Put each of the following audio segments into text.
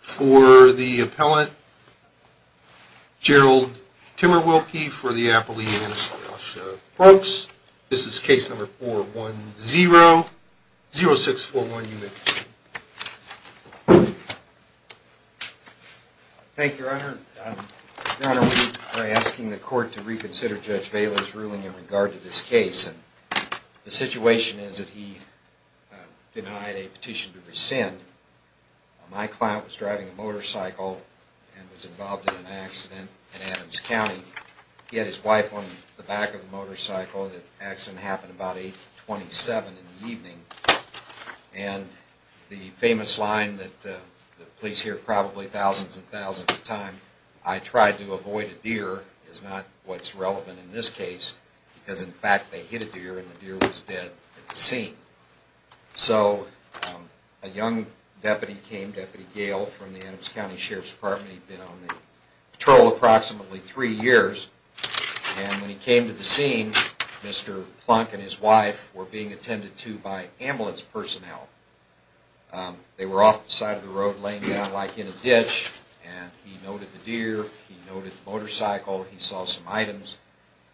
for the appellant, Gerald Timmerwilke, for the appellee is Rasha Brooks. This is case number 410-0641, you may proceed. Thank you, Your Honor. Your Honor, we are asking the court to reconsider Judge Vaila's ruling in regard to this case. The situation is that he denied a petition to rescind. My client was driving a motorcycle and was involved in an accident in Adams County. He had his wife on the back of the motorcycle. The accident happened about 8.27 in the evening. And the famous line that the police hear probably thousands and thousands of times, I tried to avoid a deer is not what's relevant in this case, because in fact they hit a deer and the deer was dead at the scene. So a young deputy came, Deputy Gale, from the Adams County Sheriff's Department. He'd been on the patrol approximately three years. And when he came to the scene, Mr. Plunk and his wife were being attended to by ambulance personnel. They were off the side of the road laying down like in a ditch, and he noted the deer, he noted the motorcycle, he saw some items.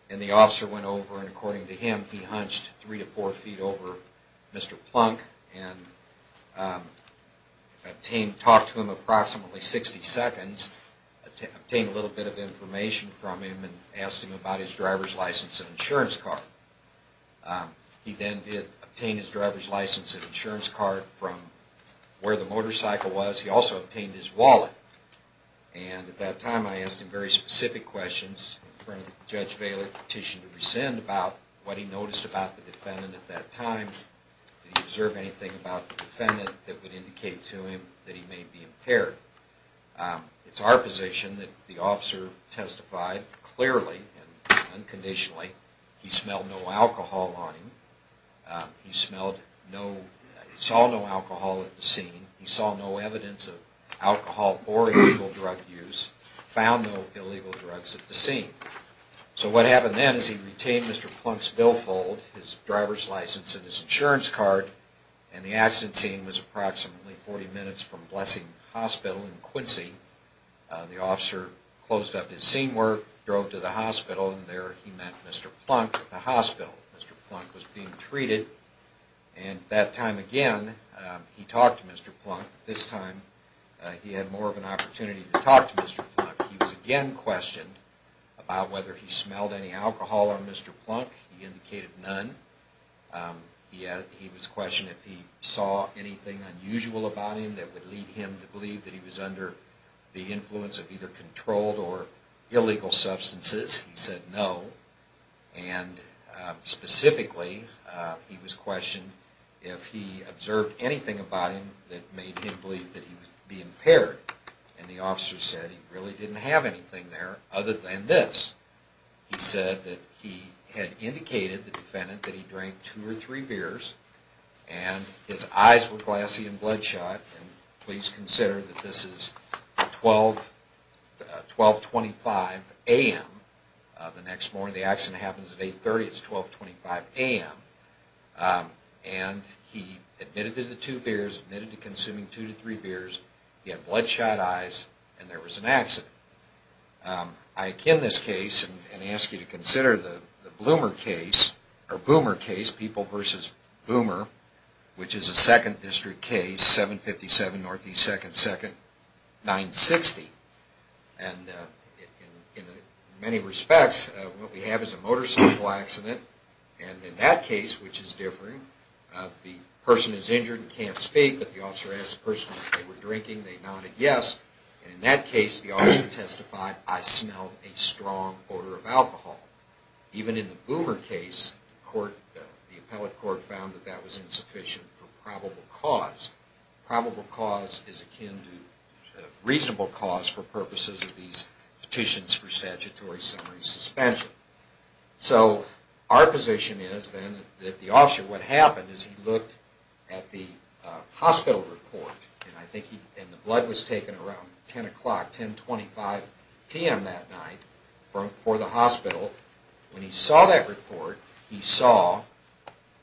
And the officer went over and according to him, he hunched three to four feet over Mr. Plunk and talked to him approximately 60 seconds, obtained a little bit of information from him and asked him about his driver's license and insurance card. He then did obtain his driver's license and insurance card from where the motorcycle was. He also obtained his wallet. And at that time I asked him very specific questions from Judge Vail at the petition to rescind about what he noticed about the defendant at that time. Did he observe anything about the defendant that would indicate to him that he may be impaired? It's our position that the officer testified clearly and unconditionally. He smelled no alcohol on him. He smelled no, saw no alcohol at the scene. He saw no evidence of alcohol or illegal drug use, found no illegal drugs at the scene. So what happened then is he retained Mr. Plunk's billfold, his driver's license and his insurance card, and the accident scene was approximately 40 minutes from Blessing Hospital in Quincy. The officer closed up his scene work, drove to the hospital, and there he met Mr. Plunk at the hospital. Mr. Plunk was being treated, and that time again he talked to Mr. Plunk. This time he had more of an opportunity to talk to Mr. Plunk. He was again questioned about whether he smelled any alcohol on Mr. Plunk. He indicated none. He was questioned if he saw anything unusual about him that would lead him to believe that he was under the influence of either controlled or illegal substances. He said no, and specifically he was questioned if he observed anything about him that made him believe that he would be impaired. And the officer said he really didn't have anything there other than this. He said that he had indicated the defendant that he drank two or three beers, and his eyes were glassy and bloodshot. Please consider that this is 1225 a.m. the next morning. The accident happens at 830. It's 1225 a.m. And he admitted to the two beers, admitted to consuming two to three beers, he had bloodshot eyes, and there was an accident. I akin this case and ask you to consider the Bloomer case, or Boomer case, People v. Boomer, which is a 2nd District case, 757 NE 2nd 2nd 960. And in many respects what we have is a motorcycle accident, and in that case, which is different, the person is injured and can't speak, but the officer asked the person if they were drinking, they nodded yes, and in that case the officer testified, I smelled a strong odor of alcohol. Even in the Boomer case, the appellate court found that that was insufficient for probable cause. Probable cause is akin to reasonable cause for purposes of these petitions for statutory summary suspension. So our position is then that the officer, what happened is he looked at the hospital report, and the blood was taken around 10 o'clock, 1025 p.m. that night, for the hospital. When he saw that report, he saw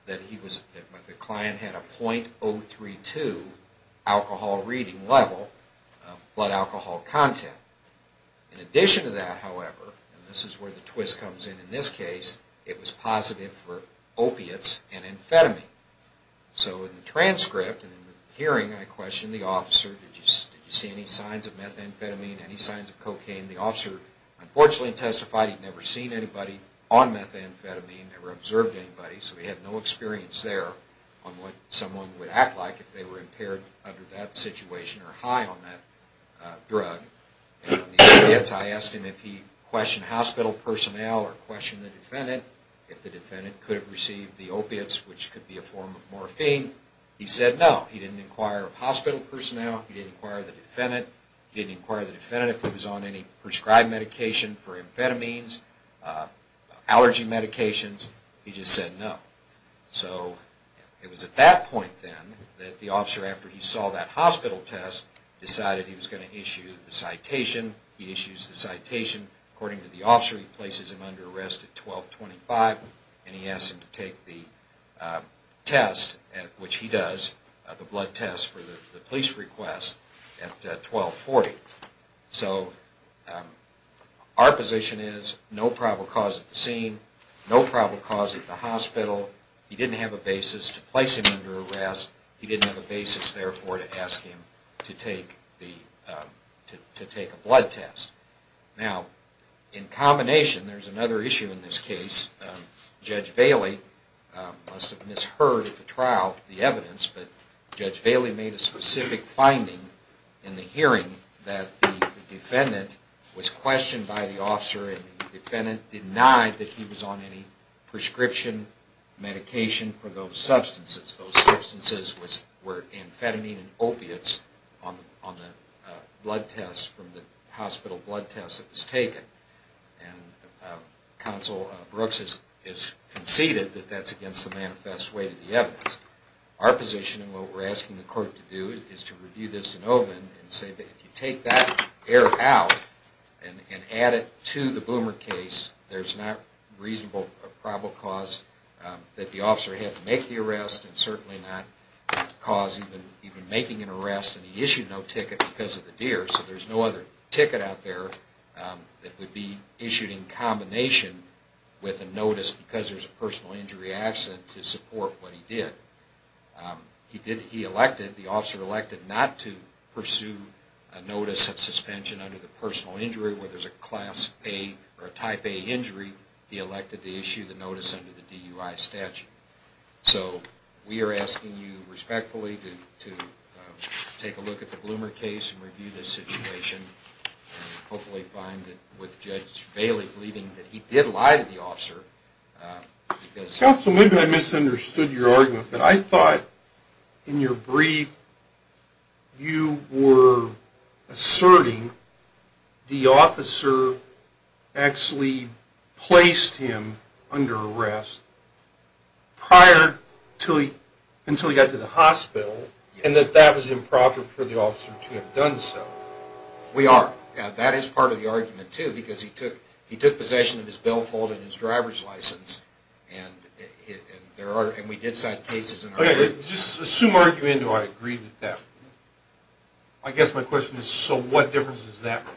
that the client had a .032 alcohol reading level of blood alcohol content. In addition to that, however, and this is where the twist comes in in this case, it was positive for opiates and amphetamine. So in the transcript and in the hearing, I questioned the officer, did you see any signs of methamphetamine, any signs of cocaine? The officer unfortunately testified he'd never seen anybody on methamphetamine, never observed anybody, so he had no experience there on what someone would act like if they were impaired under that situation or high on that drug. In the opiates, I asked him if he questioned hospital personnel or questioned the defendant, if the defendant could have received the opiates, which could be a form of morphine. He said no. He didn't inquire of hospital personnel. He didn't inquire of the defendant. He didn't inquire of the defendant if he was on any prescribed medication for amphetamines, allergy medications. He just said no. So it was at that point then that the officer, after he saw that hospital test, decided he was going to issue the citation. He issues the citation. According to the officer, he places him under arrest at 1225 and he asks him to take the test, which he does, the blood test for the police request at 1240. So our position is no probable cause at the scene, no probable cause at the hospital. He didn't have a basis to place him under arrest. He didn't have a basis, therefore, to ask him to take a blood test. Now, in combination, there's another issue in this case. Judge Bailey must have misheard at the trial the evidence, but Judge Bailey made a specific finding in the hearing that the defendant was questioned by the officer and the defendant denied that he was on any prescription medication for those substances. Those substances were amphetamine and opiates from the hospital blood test that was taken. Counsel Brooks has conceded that that's against the manifest way to the evidence. Our position and what we're asking the court to do is to review this in Olin and say that if you take that error out and add it to the Boomer case, there's not reasonable probable cause that the officer had to make the arrest and certainly not cause even making an arrest. He issued no ticket because of the deer, so there's no other ticket out there that would be issued in combination with a notice because there's a personal injury accident to support what he did. He elected, the officer elected not to pursue a notice of suspension under the personal injury where there's a Class A or a Type A injury. He elected to issue the notice under the DUI statute. So we are asking you respectfully to take a look at the Bloomer case and review this situation and hopefully find that with Judge Bailey believing that he did lie to the officer. Counsel, maybe I misunderstood your argument, but I thought in your brief you were asserting the officer actually placed him under arrest prior to, until he got to the hospital and that that was improper for the officer to have done so. We are. That is part of the argument too because he took possession of his billfold and his driver's license and there are, and we did cite cases in our... Just assume argument, do I agree with that? I guess my question is, so what difference does that make?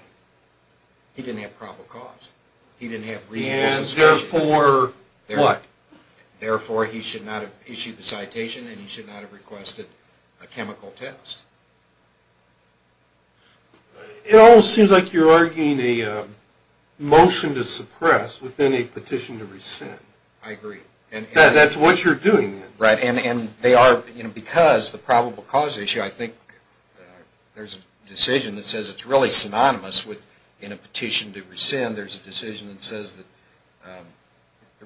He didn't have probable cause. He didn't have reasonable suspicion. And therefore, what? Therefore, he should not have issued the citation and he should not have requested a chemical test. It almost seems like you're arguing a motion to suppress within a petition to rescind. I agree. That's what you're doing then. Right, and they are, because the probable cause issue, I think there's a decision that says it's really synonymous with in a petition to rescind, there's a decision that says that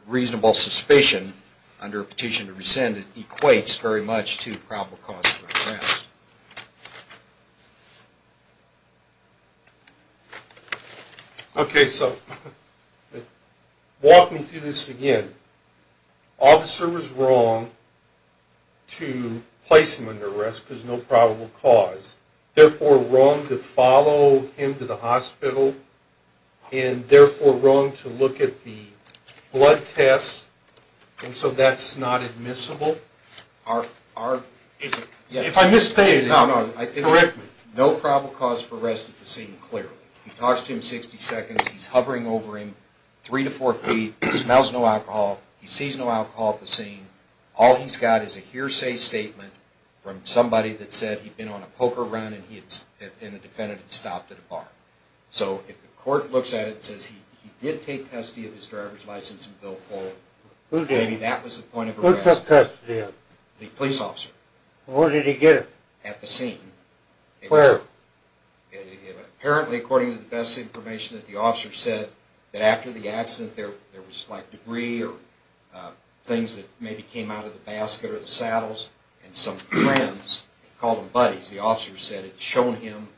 reasonable suspicion under a petition to rescind equates very much to probable cause of arrest. Okay, so walk me through this again. Officer was wrong to place him under arrest because no probable cause, therefore wrong to follow him to the hospital, and therefore wrong to look at the blood test, and so that's not admissible? If I'm misstating, correct me. No probable cause for arrest at the scene, clearly. He talks to him 60 seconds, he's hovering over him three to four feet, he smells no alcohol, he sees no alcohol at the scene, all he's got is a hearsay statement from somebody that said he'd been on a poker run and the defendant had stopped at a bar. So if the court looks at it and says he did take custody of his driver's license in Bill 4, maybe that was the point of arrest. Who took custody of him? The police officer. Where did he get it? At the scene. Where? Apparently, according to the best information that the officer said, that after the accident there was debris or things that maybe came out of the basket or the saddles, and some friends called them buddies. The officer said it had shown him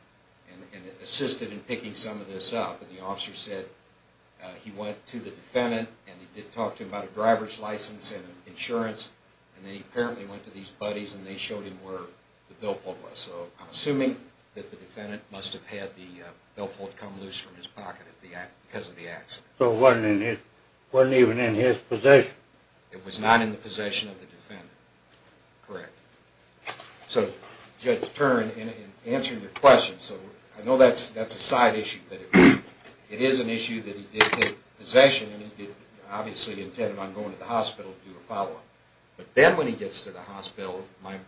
and assisted in picking some of this up. And the officer said he went to the defendant and he did talk to him about a driver's license and insurance, and then he apparently went to these buddies and they showed him where the billfold was. So I'm assuming that the defendant must have had the billfold come loose from his pocket because of the accident. So it wasn't even in his possession. It was not in the possession of the defendant. Correct. So Judge Turin, in answering your question, I know that's a side issue. It is an issue that he did take possession and he did obviously intend on going to the hospital to do a follow-up. But then when he gets to the hospital,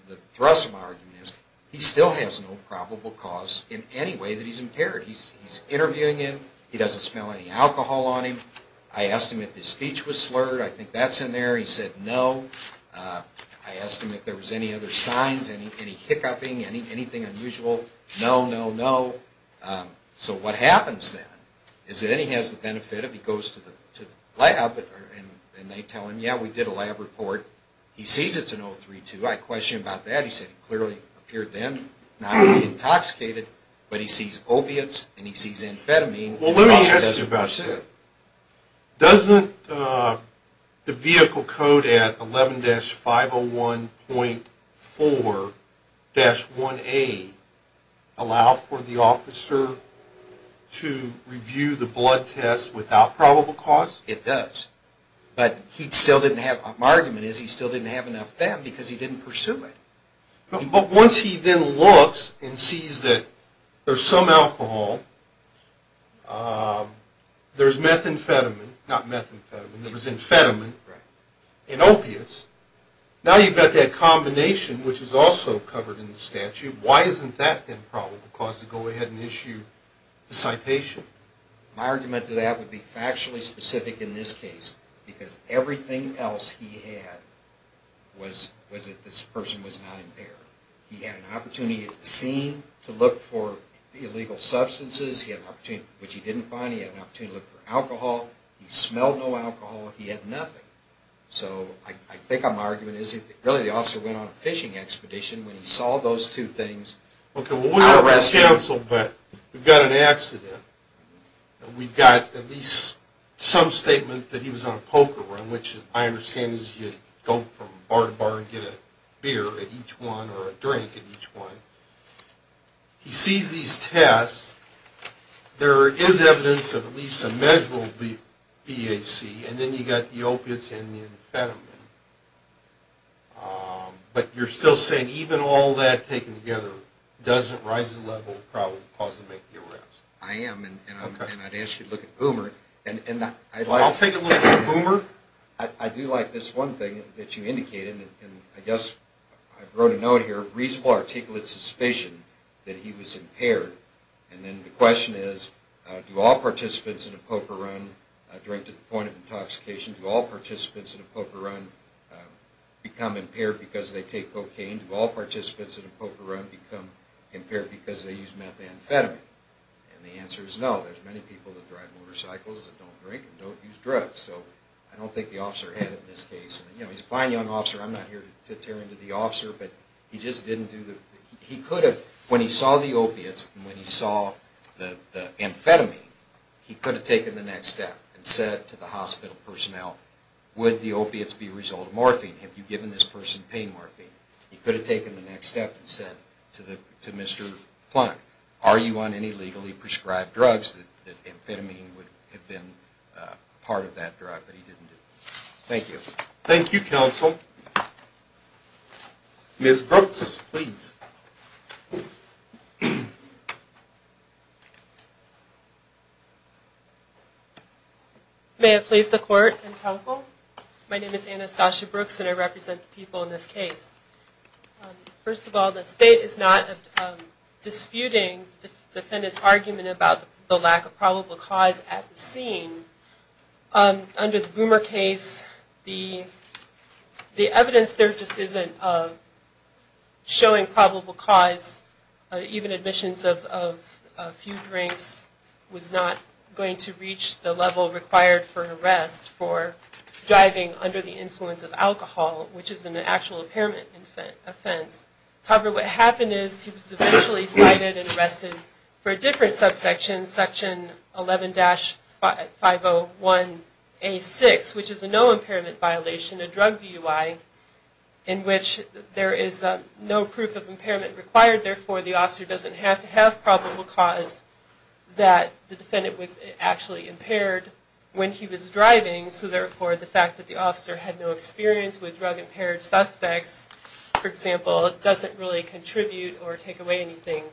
the thrust of my argument is he still has no probable cause in any way that he's impaired. He's interviewing him. He doesn't smell any alcohol on him. I asked him if his speech was slurred. I think that's in there. He said no. I asked him if there was any other signs, any hiccuping, anything unusual. No, no, no. So what happens then is that he has the benefit of he goes to the lab and they tell him, yeah, we did a lab report. He sees it's an 032. I questioned him about that. He said it clearly appeared then not to be intoxicated, but he sees opiates and he sees amphetamine. Well, let me ask you about that. Doesn't the vehicle code at 11-501.4-1A allow for the officer to review the blood test without probable cause? It does. But my argument is he still didn't have enough of that because he didn't pursue it. But once he then looks and sees that there's some alcohol, there's methamphetamine, not methamphetamine, there was amphetamine in opiates, now you've got that combination, which is also covered in the statute. Why isn't that then probable cause to go ahead and issue the citation? My argument to that would be factually specific in this case because everything else he had was that this person was not impaired. He had an opportunity at the scene to look for illegal substances, which he didn't find. He had an opportunity to look for alcohol. He smelled no alcohol. He had nothing. So I think my argument is really the officer went on a fishing expedition when he saw those two things. Okay, well, we're going to cancel, but we've got an accident We've got at least some statement that he was on a poker run, which I understand is you go from bar to bar and get a beer at each one or a drink at each one. He sees these tests. There is evidence of at least a measurable BAC, and then you've got the opiates and the amphetamine. But you're still saying even all that taken together doesn't rise to the level of probable cause to make the arrest. I am, and I'd ask you to look at Boomer. I'll take a look at Boomer. I do like this one thing that you indicated, and I guess I wrote a note here, reasonable articulate suspicion that he was impaired. And then the question is, do all participants in a poker run, direct to the point of intoxication, do all participants in a poker run become impaired because they take cocaine? Do all participants in a poker run become impaired because they use methamphetamine? And the answer is no. There's many people that drive motorcycles that don't drink and don't use drugs. So I don't think the officer had it in this case. He's a fine young officer. I'm not here to tear into the officer, but he just didn't do the... He could have, when he saw the opiates and when he saw the amphetamine, he could have taken the next step and said to the hospital personnel, would the opiates be a result of morphine? Have you given this person pain morphine? He could have taken the next step and said to Mr. Plunk, are you on any legally prescribed drugs that amphetamine would have been part of that drug, but he didn't do it. Thank you. Thank you, counsel. Ms. Brooks, please. May it please the court and counsel, My name is Anastasia Brooks and I represent the people in this case. First of all, the state is not disputing the defendant's argument about the lack of probable cause at the scene. Under the Boomer case, the evidence there just isn't showing probable cause. Even admissions of a few drinks was not going to reach the level required for arrest for driving under the influence of alcohol, which is an actual impairment offense. However, what happened is he was eventually cited and arrested for a different subsection, section 11-501A6, which is a no impairment violation, a drug DUI in which there is no proof of impairment required. Therefore, the officer doesn't have to have probable cause that the defendant was actually impaired when he was driving. So therefore, the fact that the officer had no experience with drug impaired suspects, for example, doesn't really contribute or take away anything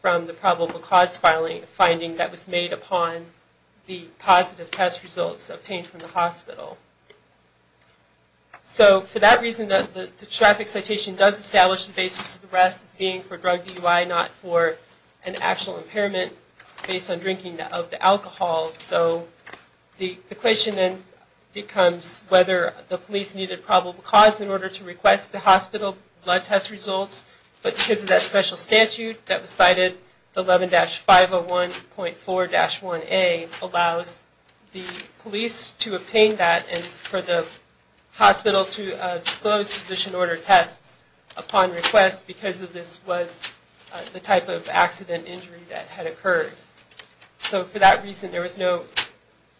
from the probable cause finding that was made upon the positive test results obtained from the hospital. So for that reason, the traffic citation does establish the basis of the arrest as being for drug DUI, not for an actual impairment based on drinking of the alcohol. So the question then becomes whether the police needed probable cause in order to request the hospital blood test results. But because of that special statute that was cited, 11-501.4-1A allows the police to obtain that and for the hospital to disclose physician ordered tests upon request because of this was the type of accident injury that had occurred. So for that reason, there was no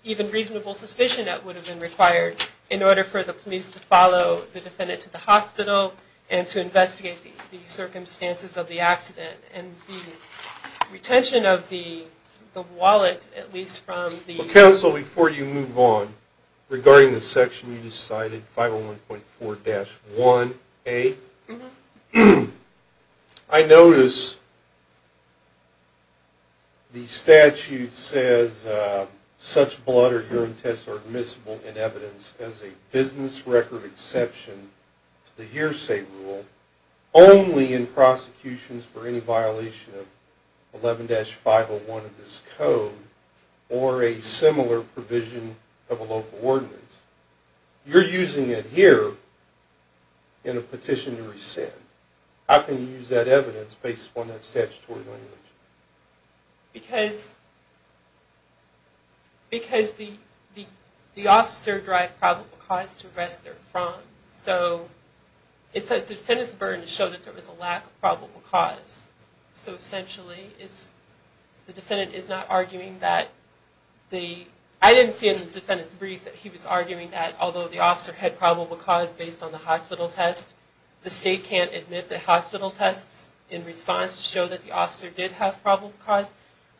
even reasonable suspicion that would have been required in order for the police to follow the defendant to the hospital and to investigate the circumstances of the accident. And the retention of the wallet, at least from the... Counsel, before you move on, regarding the section you cited, 501.4-1A, I notice the statute says such blood or urine tests are admissible in evidence as a business record exception to the hearsay rule only in prosecutions for any violation of 11-501 of this code or a similar provision of a local ordinance. You're using it here in a petition to rescind. How can you use that evidence based upon that statutory language? Because the officer derived probable cause to arrest their front. So it's a defendant's burden to show that there was a lack of probable cause. So essentially, the defendant is not arguing that the... I didn't see in the defendant's brief that he was arguing that although the officer had probable cause based on the hospital test, the state can't admit the hospital tests in response to show that the officer did have probable cause.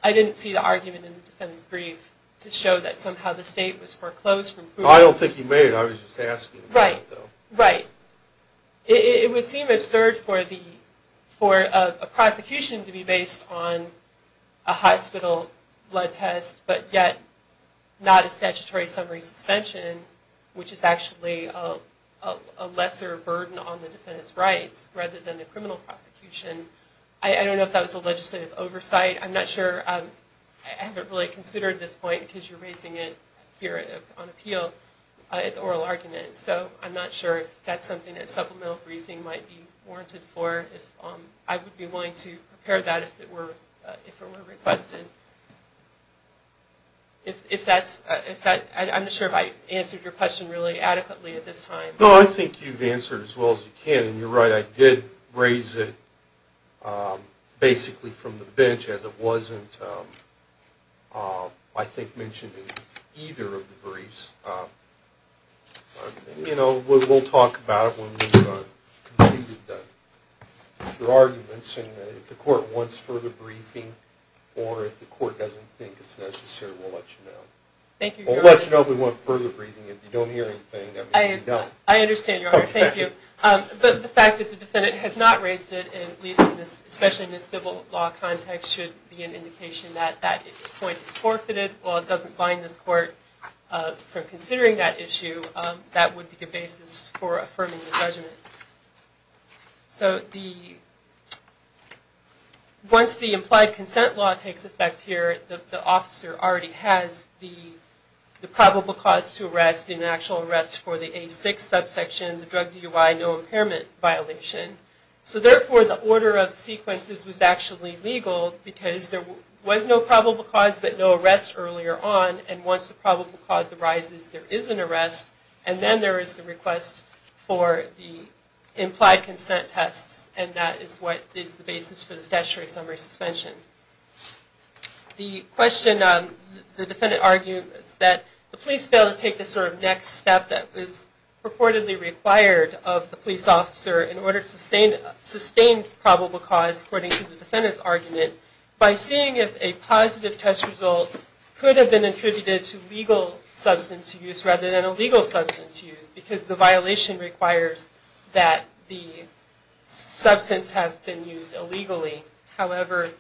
I didn't see the argument in the defendant's brief to show that somehow the state was foreclosed from proving... I don't think he made it. I was just asking. Right. Right. It would seem absurd for a prosecution to be based on a hospital blood test but yet not a statutory summary suspension, which is actually a lesser burden on the defendant's rights rather than a criminal prosecution. I don't know if that was a legislative oversight. I'm not sure. I haven't really considered this point because you're raising it here on appeal. It's an oral argument, so I'm not sure if that's something that supplemental briefing might be warranted for. I would be willing to prepare that if it were requested. I'm not sure if I answered your question really adequately at this time. No, I think you've answered it as well as you can, and you're right. I did raise it basically from the bench as it wasn't, I think, mentioned in either of the briefs. We'll talk about it when we've completed your arguments. If the court wants further briefing or if the court doesn't think it's necessary, we'll let you know. Thank you, Your Honor. We'll let you know if we want further briefing. If you don't hear anything, that means you don't. I understand, Your Honor. Thank you. But the fact that the defendant has not raised it, especially in this civil law context, should be an indication that if the point is forfeited or it doesn't bind this court for considering that issue, that would be the basis for affirming the judgment. Once the implied consent law takes effect here, the officer already has the probable cause to arrest, the actual arrest for the A6 subsection, the drug DUI, no impairment violation. So therefore, the order of sequences was actually legal because there was no probable cause, but no arrest earlier on, and once the probable cause arises, there is an arrest, and then there is the request for the implied consent tests, and that is what is the basis for the statutory summary suspension. The question the defendant argued is that the police failed to take the sort of next step that was purportedly required of the police officer in order to sustain probable cause, according to the defendant's argument, by seeing if a positive test result could have been attributed to legal substance use rather than illegal substance use, because the violation requires that the substance have been used illegally. However,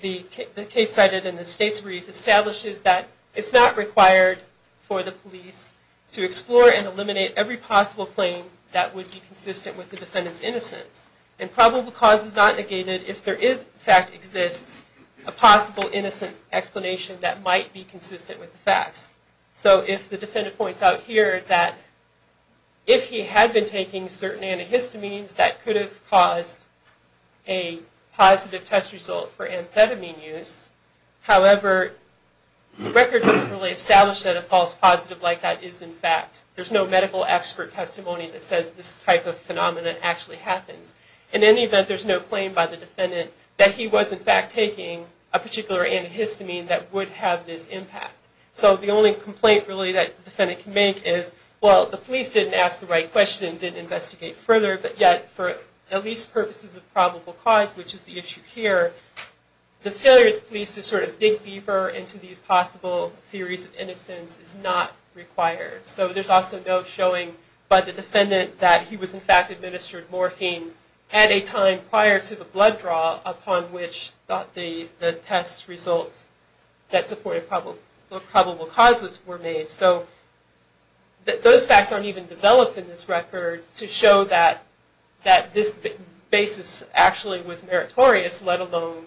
the case cited in the state's brief establishes that it's not required for the police to explore and eliminate every possible claim that would be consistent with the defendant's innocence, and probable cause is not negated if there in fact exists a possible innocent explanation that might be consistent with the facts. So if the defendant points out here that if he had been taking certain antihistamines, that could have caused a positive test result for amphetamine use, however, the record doesn't really establish that a false positive like that is in fact, there's no medical expert testimony that says this type of phenomenon actually happens. In any event, there's no claim by the defendant that he was in fact taking a particular antihistamine that would have this impact. So the only complaint really that the defendant can make is, well, the police didn't ask the right question and didn't investigate further, but yet for at least purposes of probable cause, which is the issue here, the failure of the police to sort of dig deeper into these possible theories of innocence is not required. So there's also no showing by the defendant that he was in fact administered morphine at a time prior to the blood draw upon which the test results that supported probable causes were made. So those facts aren't even developed in this record to show that this basis actually was meritorious, let alone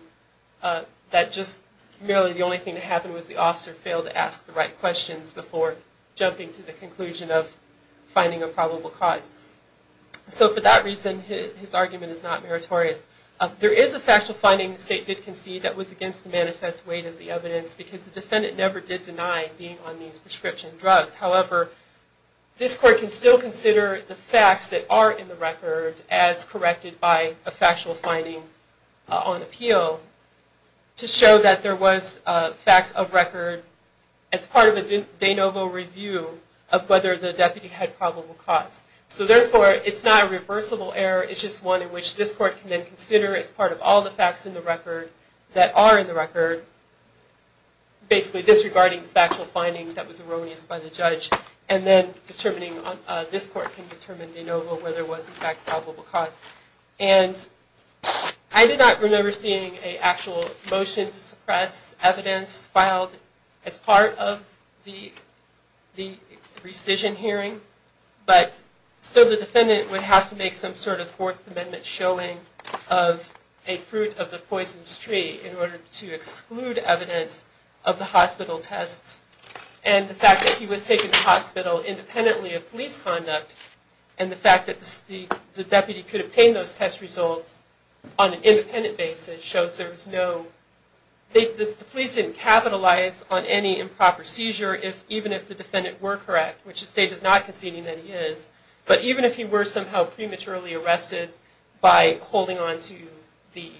that just merely the only thing that happened was the officer failed to ask the right questions before jumping to the conclusion of finding a probable cause. So for that reason, his argument is not meritorious. There is a factual finding the state did concede that was against the manifest weight of the evidence because the defendant never did deny being on these prescription drugs. However, this court can still consider the facts that are in the record as corrected by a factual finding on appeal to show that there was facts of record as part of a de novo review of whether the deputy had probable cause. So therefore, it's not a reversible error, it's just one in which this court can then consider as part of all the facts in the record that are in the record, basically disregarding the factual finding that was erroneous by the judge, and then this court can determine de novo whether there was in fact probable cause. And I did not remember seeing an actual motion to suppress evidence filed as part of the rescission hearing, but still the defendant would have to make some sort of Fourth Amendment showing of a fruit of the poison's tree in order to exclude evidence of the hospital tests. And the fact that he was taken to the hospital independently of police conduct, and the fact that the deputy could obtain those test results on an independent basis, shows there was no, the police didn't capitalize on any improper seizure, even if the defendant were correct, which the state is not conceding that he is, but even if he were somehow prematurely arrested by holding onto the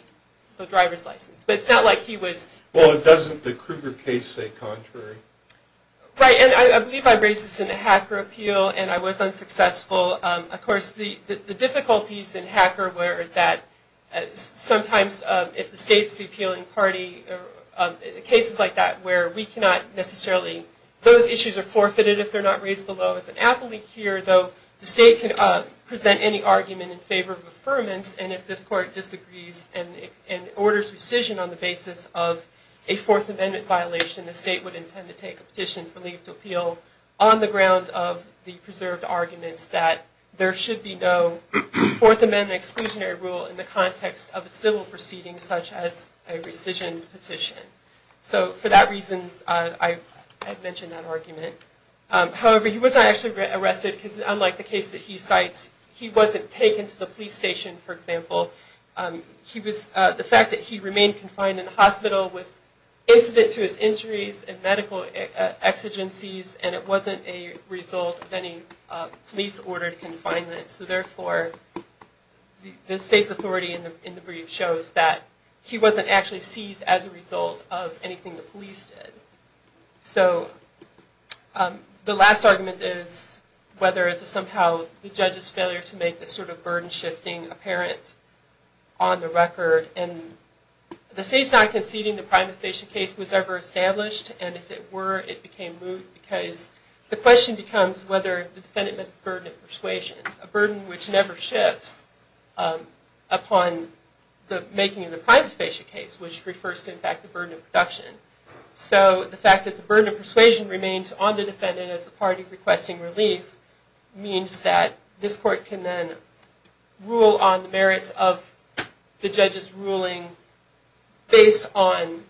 driver's license. But it's not like he was... Well, doesn't the Kruger case say contrary? Right, and I believe I raised this in a HACR appeal, and I was unsuccessful. Of course, the difficulties in HACR were that sometimes if the state's appealing party, cases like that where we cannot necessarily... Those issues are forfeited if they're not raised below as an appellee here, though the state can present any argument in favor of affirmance, and if this court disagrees and orders rescission on the basis of a Fourth Amendment violation, the state would intend to take a petition for leave to appeal on the grounds of the preserved arguments that there should be no Fourth Amendment exclusionary rule in the context of a civil proceeding such as a rescission petition. So for that reason, I've mentioned that argument. However, he was not actually arrested, because unlike the case that he cites, he wasn't taken to the police station, for example. The fact that he remained confined in the hospital was incident to his injuries and medical exigencies, and it wasn't a result of any police-ordered confinement. So therefore, the state's authority in the brief shows that he wasn't actually seized as a result of anything the police did. So the last argument is whether somehow the judge's failure to make this sort of burden-shifting apparent on the record. And the state's not conceding the private station case was ever established, and if it were, it became moot, because the question becomes whether the defendant met its burden of persuasion, a burden which never shifts upon the making of the private station case, which refers to, in fact, the burden of production. So the fact that the burden of persuasion remains on the defendant as the party requesting relief means that this court can then rule on the merits of the judge's ruling based on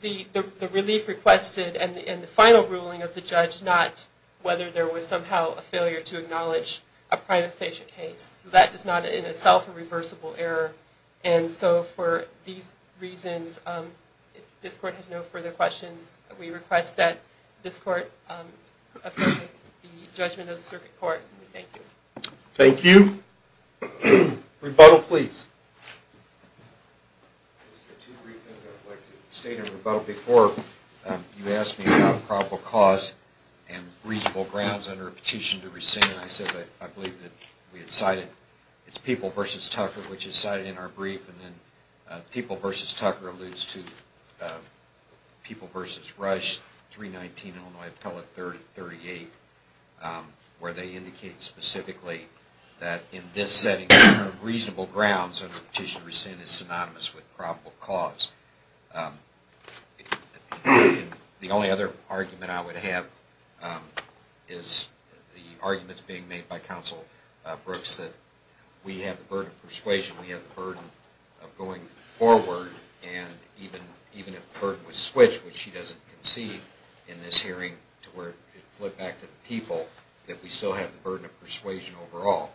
the relief requested and the final ruling of the judge, and not whether there was somehow a failure to acknowledge a private station case. So that is not in itself a reversible error. And so for these reasons, if this court has no further questions, we request that this court approve the judgment of the circuit court. Thank you. Rebuttal, please. Just two brief things I'd like to state in rebuttal. Before you asked me about probable cause and reasonable grounds under a petition to rescind, I said that I believe that we had cited, it's People v. Tucker, which is cited in our brief, and then People v. Tucker alludes to People v. Rush 319, Illinois Appellate 38, where they indicate specifically that in this setting, reasonable grounds under a petition to rescind is synonymous with probable cause. The only other argument I would have is the arguments being made by Counsel Brooks that we have the burden of persuasion, we have the burden of going forward, and even if the burden was switched, which she doesn't concede in this hearing, to where it flipped back to the People, that we still have the burden of persuasion overall.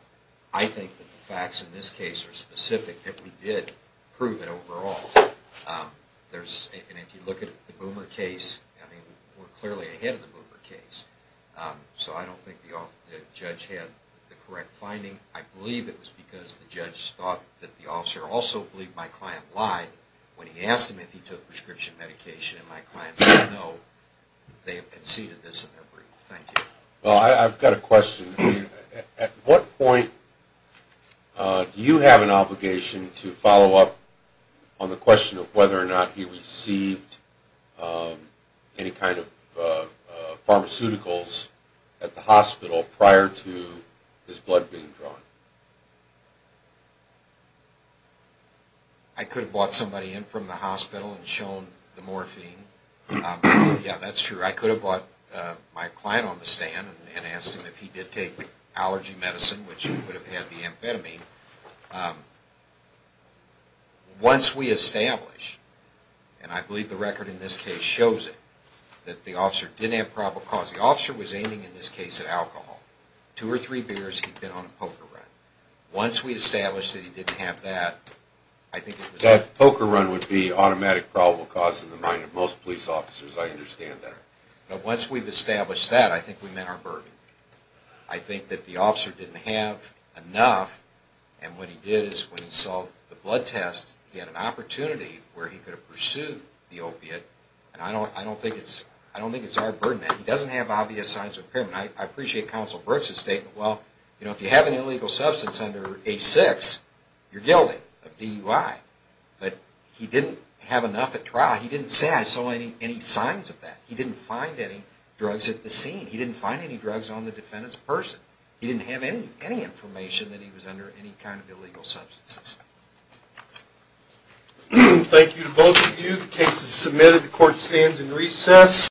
I think that the facts in this case are specific, that we did prove it overall. And if you look at the Boomer case, we're clearly ahead of the Boomer case, so I don't think the judge had the correct finding. I believe it was because the judge thought that the officer also believed my client lied when he asked him if he took prescription medication, and my client said no, they have conceded this in their brief. Thank you. Well, I've got a question. At what point do you have an obligation to follow up on the question of whether or not he received any kind of pharmaceuticals at the hospital prior to his blood being drawn? I could have brought somebody in from the hospital and shown the morphine. Yeah, that's true. I could have brought my client on the stand and asked him if he did take allergy medicine, which would have had the amphetamine. Once we establish, and I believe the record in this case shows it, that the officer didn't have probable cause. The officer was aiming, in this case, at alcohol. Two or three beers, he'd been on a poker run. Once we establish that he didn't have that, I think it was... That poker run would be automatic probable cause in the mind of most police officers. I understand that. Once we've established that, I think we've met our burden. I think that the officer didn't have enough, and what he did is when he saw the blood test, he had an opportunity where he could have pursued the opiate, and I don't think it's our burden. He doesn't have obvious signs of impairment. I appreciate Counsel Brooks' statement. Well, if you have an illegal substance under A6, you're guilty of DUI, but he didn't have enough at trial. He didn't say, I saw any signs of that. He didn't find any drugs at the scene. He didn't find any drugs on the defendant's person. He didn't have any information that he was under any kind of illegal substances. Thank you to both of you. The case is submitted. The court stands in recess.